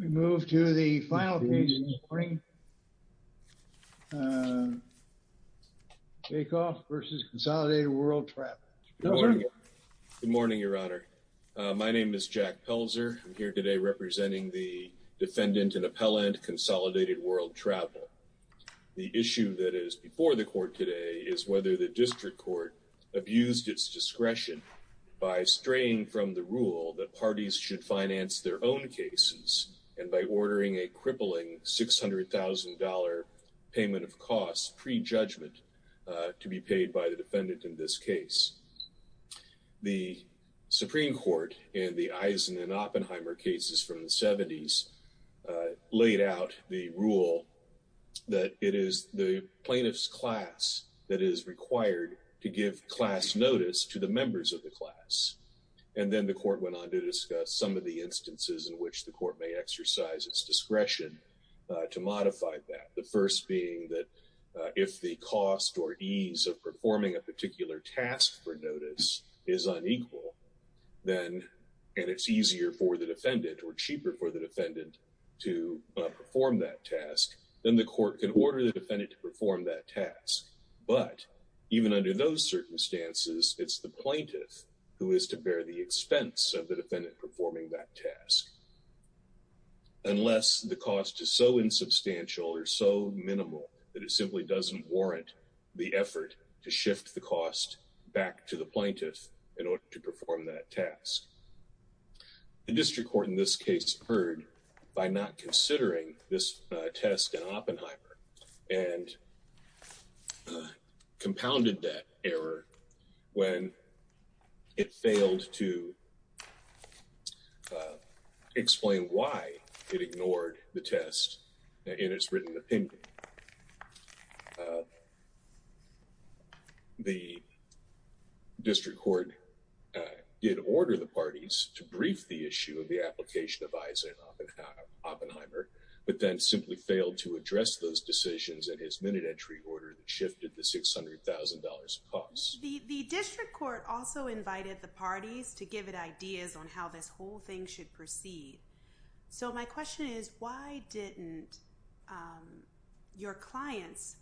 Good morning, Your Honor. My name is Jack Pelzer. I'm here today representing the Defendant in Appellant, Consolidated World Travel. The issue that is before the Court today is whether the District Court abused its discretion by straying from the rule that parties should finance their own cases and by ordering a crippling $600,000 payment of costs pre-judgment to be paid by the Defendant in this case. The Supreme Court in the Eisen and Oppenheimer cases from the 70s laid out the rule that it is the plaintiff's class that is required to give class notice to the members of the class. And then the Court went on to discuss some of the instances in which the Court may exercise its discretion to modify that. The first being that if the cost or ease of performing a particular task for notice is unequal, then and it's easier for the Defendant or cheaper for the Defendant to perform that task, then the Court can order the Defendant to perform that task. But even under those circumstances, it's the plaintiff who is to bear the expense of the Defendant performing that task. Unless the cost is so insubstantial or so minimal that it simply doesn't warrant the effort to shift the cost back to the plaintiff in order to perform that task. The District Court in this case heard by not considering this test in Oppenheimer and compounded that error when it failed to explain why it ignored the test in its written opinion. The District Court did order the parties to brief the issue of the application of Eisen and Oppenheimer, but then simply failed to address those decisions in his minute entry order that shifted the cost to $600,000. The District Court also invited the parties to give it ideas on how this whole thing should proceed. So my question is, why didn't your clients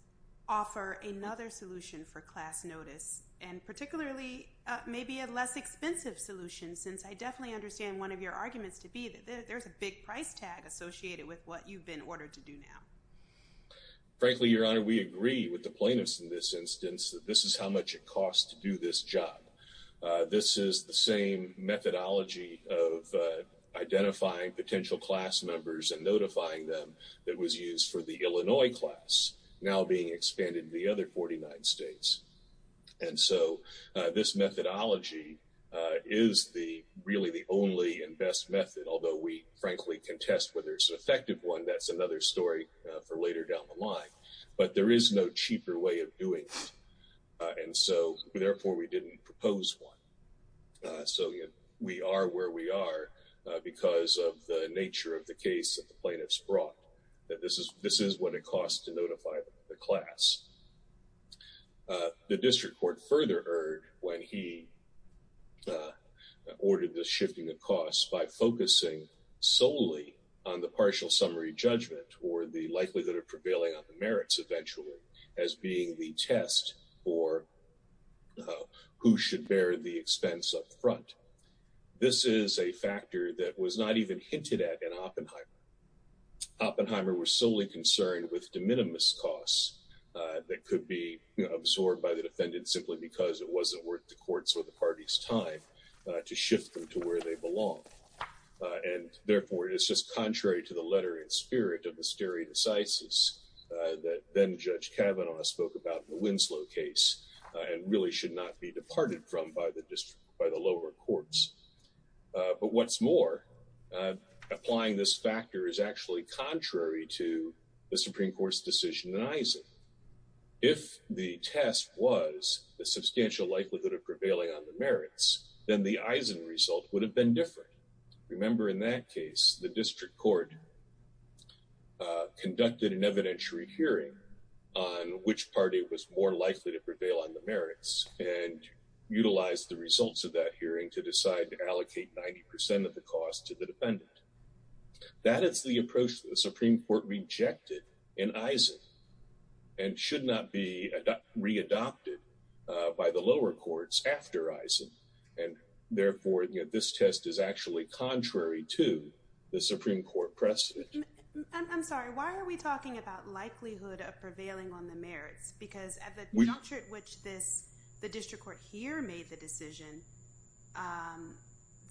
offer another solution for class notice and particularly maybe a less expensive solution since I definitely understand one of your arguments to be that there's a big price tag associated with what this is how much it costs to do this job. This is the same methodology of identifying potential class members and notifying them that was used for the Illinois class now being expanded to the other 49 states. And so this methodology is really the only and best method, although we frankly contest whether it's an effective one. That's another story for later down the line, but there is no cheaper way of doing it. And so therefore we didn't propose one. So we are where we are because of the nature of the case that the plaintiffs brought that this is this is what it costs to notify the class. The District Court further erred when he ordered this shifting of costs by focusing solely on the partial summary judgment or the likelihood that are prevailing on the merits eventually as being the test for who should bear the expense up front. This is a factor that was not even hinted at in Oppenheimer. Oppenheimer was solely concerned with de minimis costs that could be absorbed by the defendant simply because it wasn't worth the court's or the party's time to shift them to where they belong. And therefore it is just contrary to the letter in spirit of the stare decisis that then Judge Kavanaugh spoke about the Winslow case and really should not be departed from by the district by the lower courts. But what's more, applying this factor is actually contrary to the Supreme Court's decision in Eisen. If the test was the substantial likelihood of prevailing on the merits, then the Eisen result would have been different. Remember, in that case, the District Court conducted an evidentiary hearing on which party was more likely to prevail on the merits and utilize the results of that hearing to decide to allocate 90% of the cost to the defendant. That is the approach that the Supreme Court rejected in the lower courts after Eisen. And therefore this test is actually contrary to the Supreme Court precedent. I'm sorry, why are we talking about likelihood of prevailing on the merits? Because at the juncture at which the District Court here made the decision,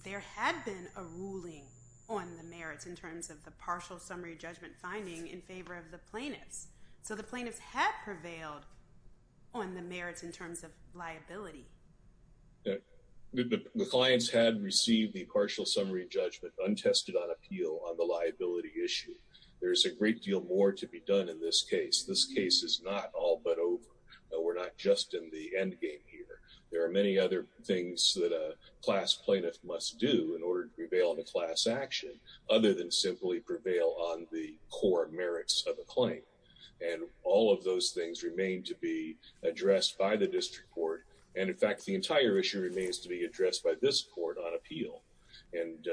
there had been a ruling on the merits in terms of the partial summary judgment finding in favor of the plaintiffs. So the plaintiffs had prevailed on the merits in terms of liability. The clients had received the partial summary judgment untested on appeal on the liability issue. There's a great deal more to be done in this case. This case is not all but over. We're not just in the endgame here. There are many other things that a class plaintiff must do in order to prevail on a class action other than simply prevail on the core merits of a claim. And all of those things remain to be addressed by the District Court. And in fact, the entire issue remains to be addressed by this court on appeal. And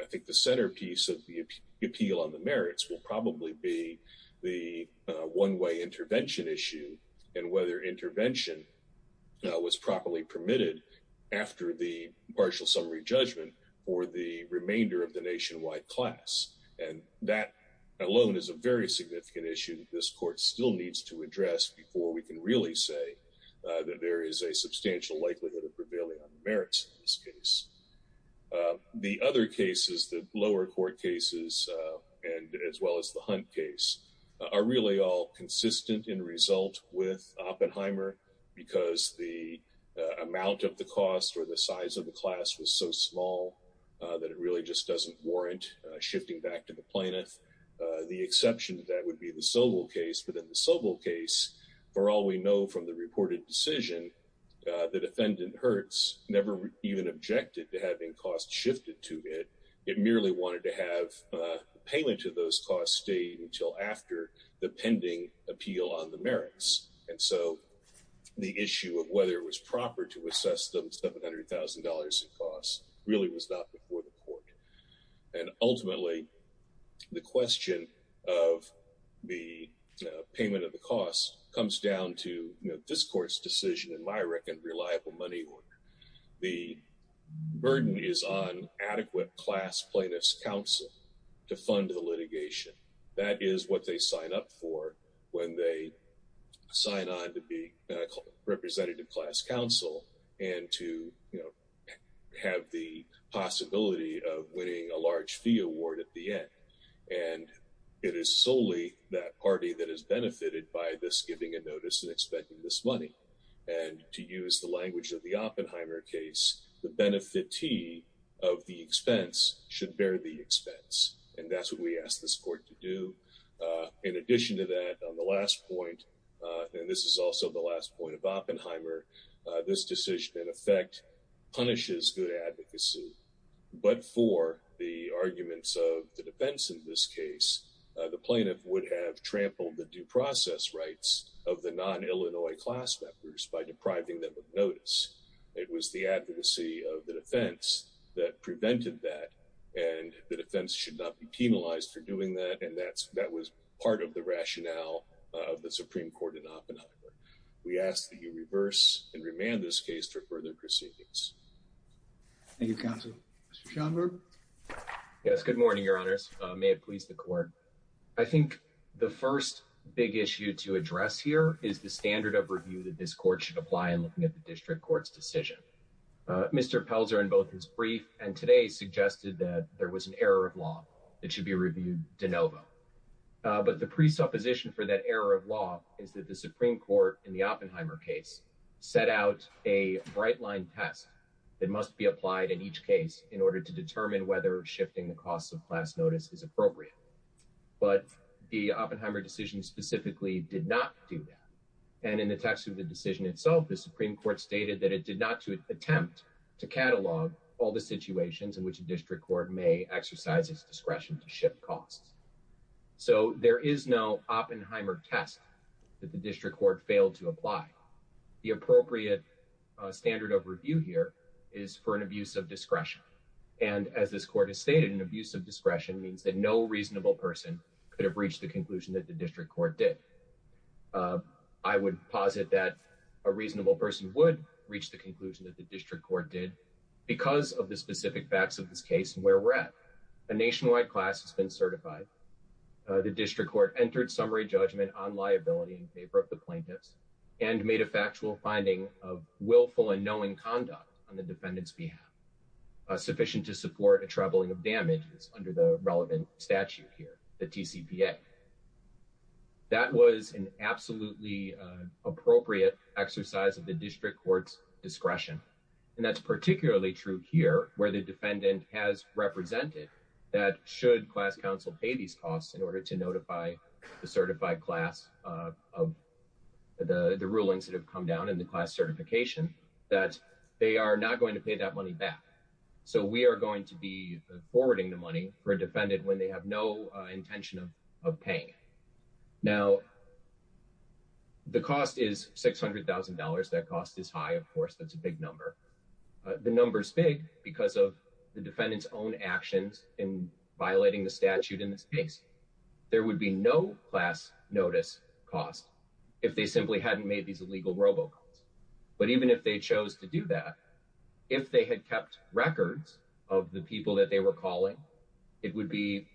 I think the centerpiece of the appeal on the merits will probably be the one-way intervention issue and whether intervention was properly permitted after the partial summary judgment for the remainder of the nationwide class. And that alone is a very significant issue that this court still needs to address before we can really say that there is a substantial likelihood of prevailing on the merits in this case. The other cases, the lower court cases, as well as the Hunt case, are really all consistent in result with Oppenheimer because the amount of the cost or the size of the class was so small that it really just doesn't warrant shifting back to the plaintiff. The exception to that would be the Sobel case. But in the Sobel case, for all we know from the reported decision, the defendant, Hertz, never even objected to having costs shifted to it. It merely wanted to have the payment of those costs stayed until after the pending appeal on the merits. And so the issue of whether it was proper to assess the $700,000 in costs really was not before the court. And ultimately, the question of the payment of the costs comes down to this court's decision in my reckoned reliable money order. The burden is on adequate class plaintiff's counsel to fund the litigation. That is what they sign up for when they sign on to be representative class counsel and to have the possibility of winning a large fee award at the end. And it is solely that party that is benefited by this giving a notice and expecting this money. And to use the language of the Oppenheimer case, the benefitee of the expense should bear the expense. And that's what we ask this court to do. In addition to that, on the last point, and this is also the last point of Oppenheimer, this decision in effect punishes good advocacy. But for the arguments of the defense in this case, the plaintiff would have trampled the due process rights of the non-Illinois class members by depriving them of notice. It was the advocacy of the defense that prevented that. And the defense should not be penalized for doing that. And that's that was part of the rationale of the Supreme Court in Oppenheimer. We ask that you reverse and remand this case for further proceedings. Thank you, counsel. Mr. Schaumburg. Yes, good morning, your honors. May it please the court. I think the first big issue to address here is the standard of review that this court should apply in looking at the Mr. Pelzer in both his brief and today suggested that there was an error of law that should be reviewed de novo. But the presupposition for that error of law is that the Supreme Court in the Oppenheimer case set out a bright line test that must be applied in each case in order to determine whether shifting the costs of class notice is appropriate. But the Oppenheimer decision specifically did not do that. And in the text of the decision itself, the Supreme Court stated that it did not attempt to catalog all the situations in which a district court may exercise its discretion to shift costs. So there is no Oppenheimer test that the district court failed to apply. The appropriate standard of review here is for an abuse of discretion. And as this court has stated, an abuse of discretion means that no reasonable person could have reached the conclusion that the district court did. I would posit that a reasonable person would reach the conclusion that the district court did because of the specific facts of this case and where we're at. A nationwide class has been certified. The district court entered summary judgment on liability in favor of the plaintiffs and made a factual finding of willful and knowing conduct on the defendant's behalf sufficient to support a troubling of damages under the relevant statute here, the that was an absolutely appropriate exercise of the district court's discretion. And that's particularly true here, where the defendant has represented that should class counsel pay these costs in order to notify the certified class of the rulings that have come down in the class certification that they are not going to pay that money back. So we are going to be forwarding the money for a defendant when they have no intention of paying. Now, the cost is $600,000. That cost is high. Of course, that's a big number. The numbers big because of the defendant's own actions in violating the statute in this case, there would be no class notice cost if they simply hadn't made these illegal robocalls. But even if they chose to do that, if they had kept records of the people that they were calling, it would be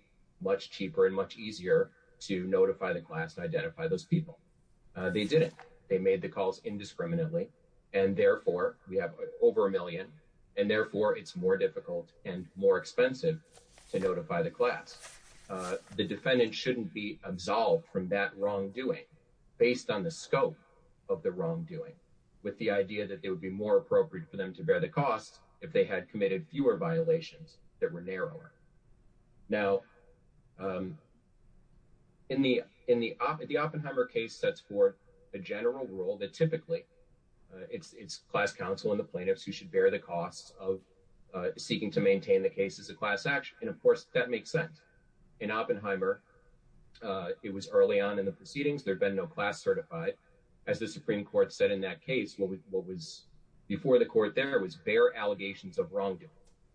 much cheaper and much easier to notify the class to identify those people. They didn't. They made the calls indiscriminately, and therefore we have over a million and therefore it's more difficult and more expensive to notify the class. The defendant shouldn't be absolved from that wrongdoing based on the scope of the wrongdoing, with the idea that it would be more appropriate for them to bear the cost if they had committed fewer violations that were narrower. Now, in the Oppenheimer case, that's for a general rule that typically it's class counsel and the plaintiffs who should bear the costs of seeking to maintain the case as a class action. And of course, that makes sense. In Oppenheimer, it was early on in the proceedings. There had been no class certified. As the Supreme Court said in that case, what was before the court there was bare allegations of wrongdoing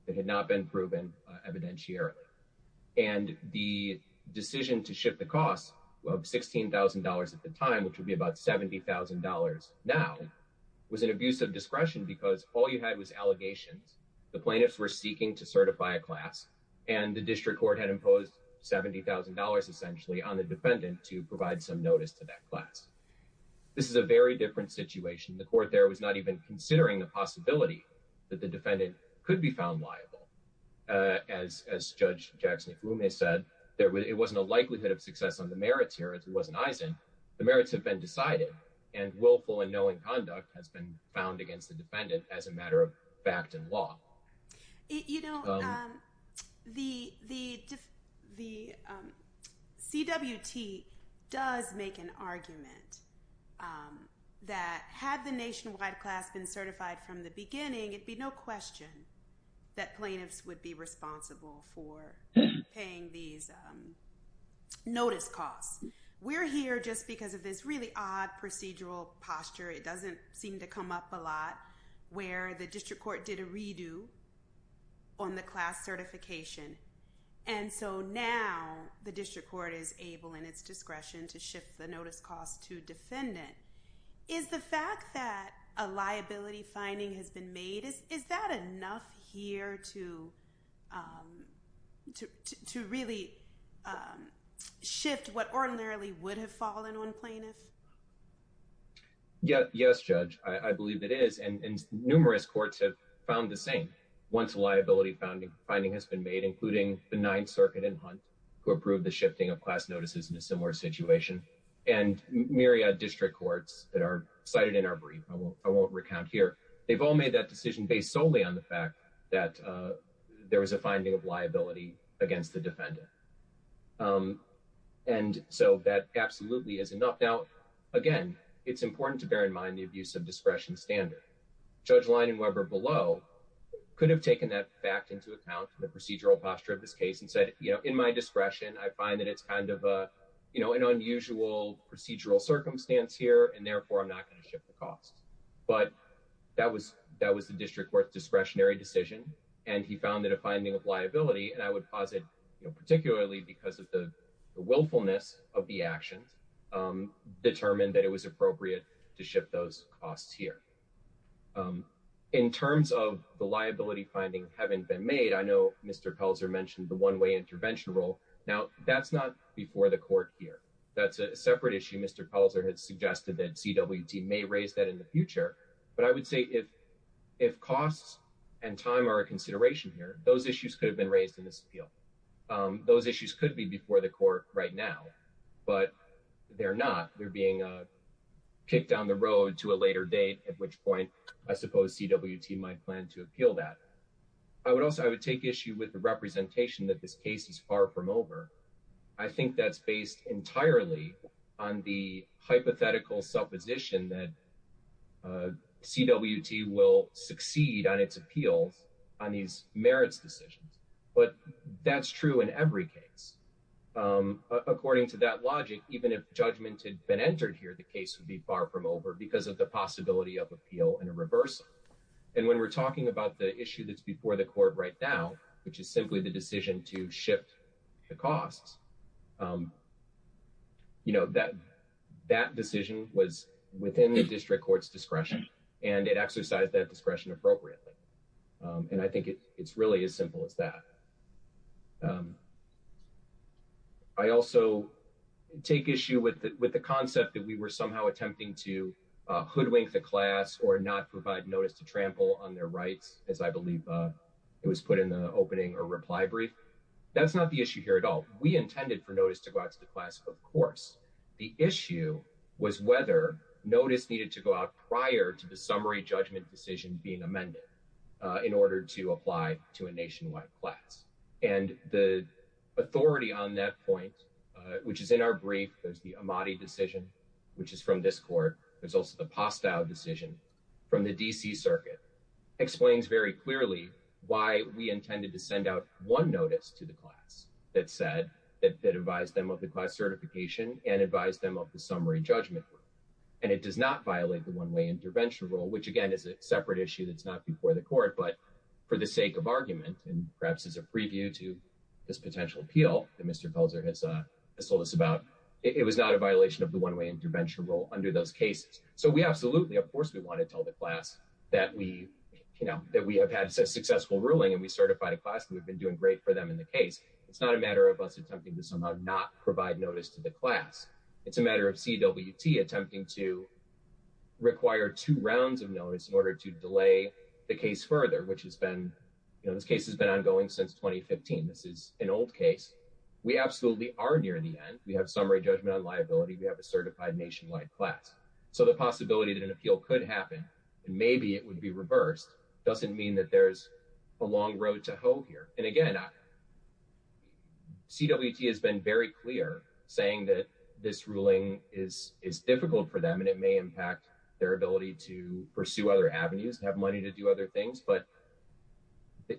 that had not been proven evidentiarily. And the decision to shift the cost of $16,000 at the time, which would be about $70,000 now, was an abuse of discretion because all you had was allegations. The plaintiffs were seeking to certify a class, and the district court had imposed $70,000 essentially on the defendant to provide some notice to that class. This is a very different situation. The court there was not even considering the possibility that the defendant could be found liable. As Judge Jackson said, it wasn't a likelihood of success on the merits here. It wasn't Eisen. The merits have been decided, and willful and knowing conduct has been found against the defendant as a matter of fact and law. You know, the CWT does make an argument that had the nationwide class been certified from the beginning, it'd be no question that plaintiffs would be responsible for paying these notice costs. We're here just because of this really odd procedural posture. It doesn't seem to come up a lot where the district court did a redo on the class certification. And so now the district court is able in its discretion to shift the notice cost to defendant. Is the fact that a liability finding has been made, is that enough here to really shift what ordinarily would have fallen on plaintiffs? Yes, Judge. I believe it is, and numerous courts have found the same. Once a liability finding has been made, including the Ninth Circuit in Hunt, who approved the shifting of class notices in a similar situation, and district courts that are cited in our brief, I won't recount here. They've all made that decision based solely on the fact that there was a finding of liability against the defendant. And so that absolutely is enough. Now, again, it's important to bear in mind the abuse of discretion standard. Judge Leinenweber below could have taken that fact into account, the procedural posture of this case, and said, you know, in my discretion, I find that it's kind of, you know, an unusual procedural circumstance here, and therefore I'm not going to shift the cost. But that was the district court's discretionary decision, and he found that a finding of liability, and I would posit, you know, particularly because of the willfulness of the actions, determined that it was appropriate to shift those costs here. In terms of the liability finding having been made, I know Mr. Pelzer mentioned the one-way intervention rule. Now, that's not before the court here. That's a separate issue. Mr. Pelzer has suggested that CWT may raise that in the future, but I would say if costs and time are a consideration here, those issues could have been raised in this appeal. Those issues could be before the court right now, but they're not. They're being kicked down the road to a later date, at which point I suppose CWT might plan to appeal that. I would also, I would take issue with the representation that this case is far from over. I think that's based entirely on the hypothetical supposition that CWT will succeed on its appeals on these merits decisions, but that's true in every case. According to that logic, even if judgment had been entered here, the case would be far from over because of the possibility of appeal and a reversal. When we're talking about the issue that's before the court right now, which is simply the decision to shift the costs, that decision was within the district court's discretion and it exercised that discretion appropriately. I think it's really as simple as that. I also take issue with the concept that we were somehow attempting to wink the class or not provide notice to trample on their rights, as I believe it was put in the opening or reply brief. That's not the issue here at all. We intended for notice to go out to the class, of course. The issue was whether notice needed to go out prior to the summary judgment decision being amended in order to apply to a nationwide class. The authority on that point, which is in our brief, there's the Amati decision, which is from this court. There's also the Postow decision from the D.C. Circuit, explains very clearly why we intended to send out one notice to the class that advised them of the class certification and advised them of the summary judgment. It does not violate the one-way intervention rule, which again is a separate issue that's not before the court, but for the sake of argument and perhaps as a preview to this potential appeal that Mr. Calzer has told us about, it was not a violation of the one-way intervention rule under those cases. So we absolutely, of course, we want to tell the class that we have had a successful ruling and we certified a class and we've been doing great for them in the case. It's not a matter of us attempting to somehow not provide notice to the class. It's a matter of CWT attempting to require two rounds of notice in order to delay the case further, which has been, this case has been ongoing since 2015. This is an old case. We absolutely are near the end. We have summary judgment on liability. We have a certified nationwide class. So the possibility that an appeal could happen and maybe it would be reversed doesn't mean that there's a long road to hoe here. And again, CWT has been very clear saying that this ruling is difficult for them and it may impact their ability to pursue other avenues, have money to do other things, but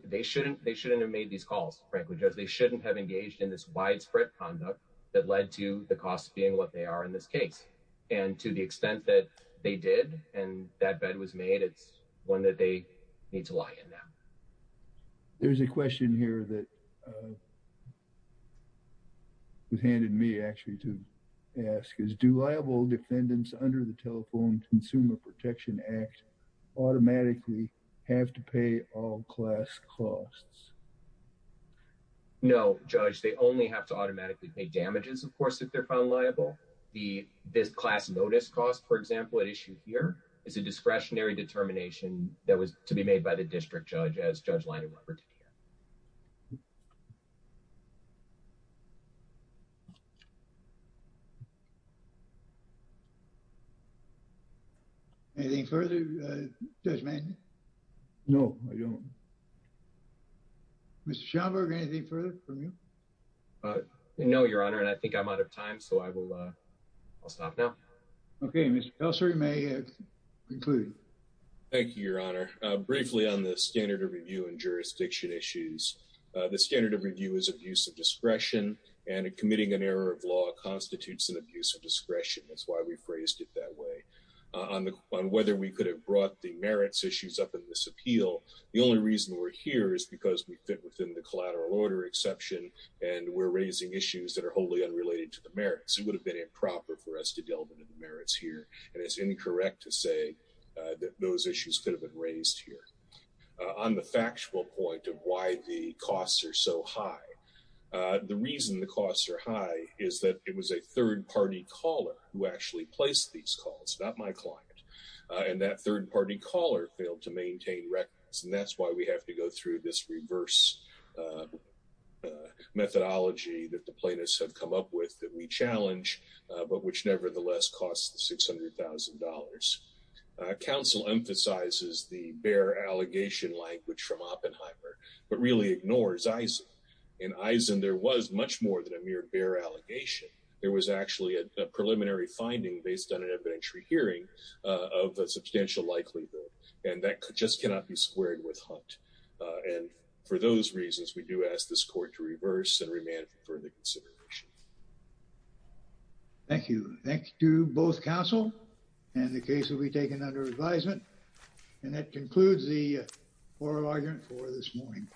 they shouldn't have made these calls, frankly, because they shouldn't have engaged in this widespread conduct that led to the costs being what they are in this case. And to the extent that they did and that bet was made, it's one that they need to lie in now. There's a question here that was handed me actually to ask is do have to pay all class costs? No, Judge, they only have to automatically pay damages, of course, if they're found liable. This class notice cost, for example, at issue here is a discretionary determination that was to be made by the district judge as Judge Liner-Rupert did it. Anything further, Judge Mann? No, I don't. Mr. Schomburg, anything further from you? No, Your Honor, and I think I'm out of time, so I will stop now. Okay, Mr. Kelser, you may conclude. Thank you, Your Honor. Briefly on the standard of review and jurisdiction issues, the standard of review is abuse of discretion, and committing an error of law constitutes an abuse of discretion. That's why we phrased it that way. On whether we could have brought the merits issues up in this appeal, the only reason we're here is because we fit within the collateral order exception, and we're raising issues that are wholly unrelated to the merits. It would have been improper for us to delve into the merits here, and it's incorrect to say that those issues could have been raised here. On the factual point of why the costs are so high, the reason the costs are high is that it was a third-party caller who actually placed these calls, not my client, and that third-party caller failed to maintain records, and that's why we have to go through this reverse methodology that the plaintiffs have come up with that we challenge, but which nevertheless costs the $600,000. Counsel emphasizes the bare allegation language from Oppenheimer, but really ignores Eisen. In Eisen, there was much more than a mere bare allegation. There was actually a preliminary finding based on an evidentiary hearing of a substantial likelihood, and that just cannot be squared with Hunt, and for those reasons, we do ask this court to reverse and remand for further consideration. Thank you. Thank you both, counsel, and the case will be taken under advisement, and that concludes the oral argument for this morning.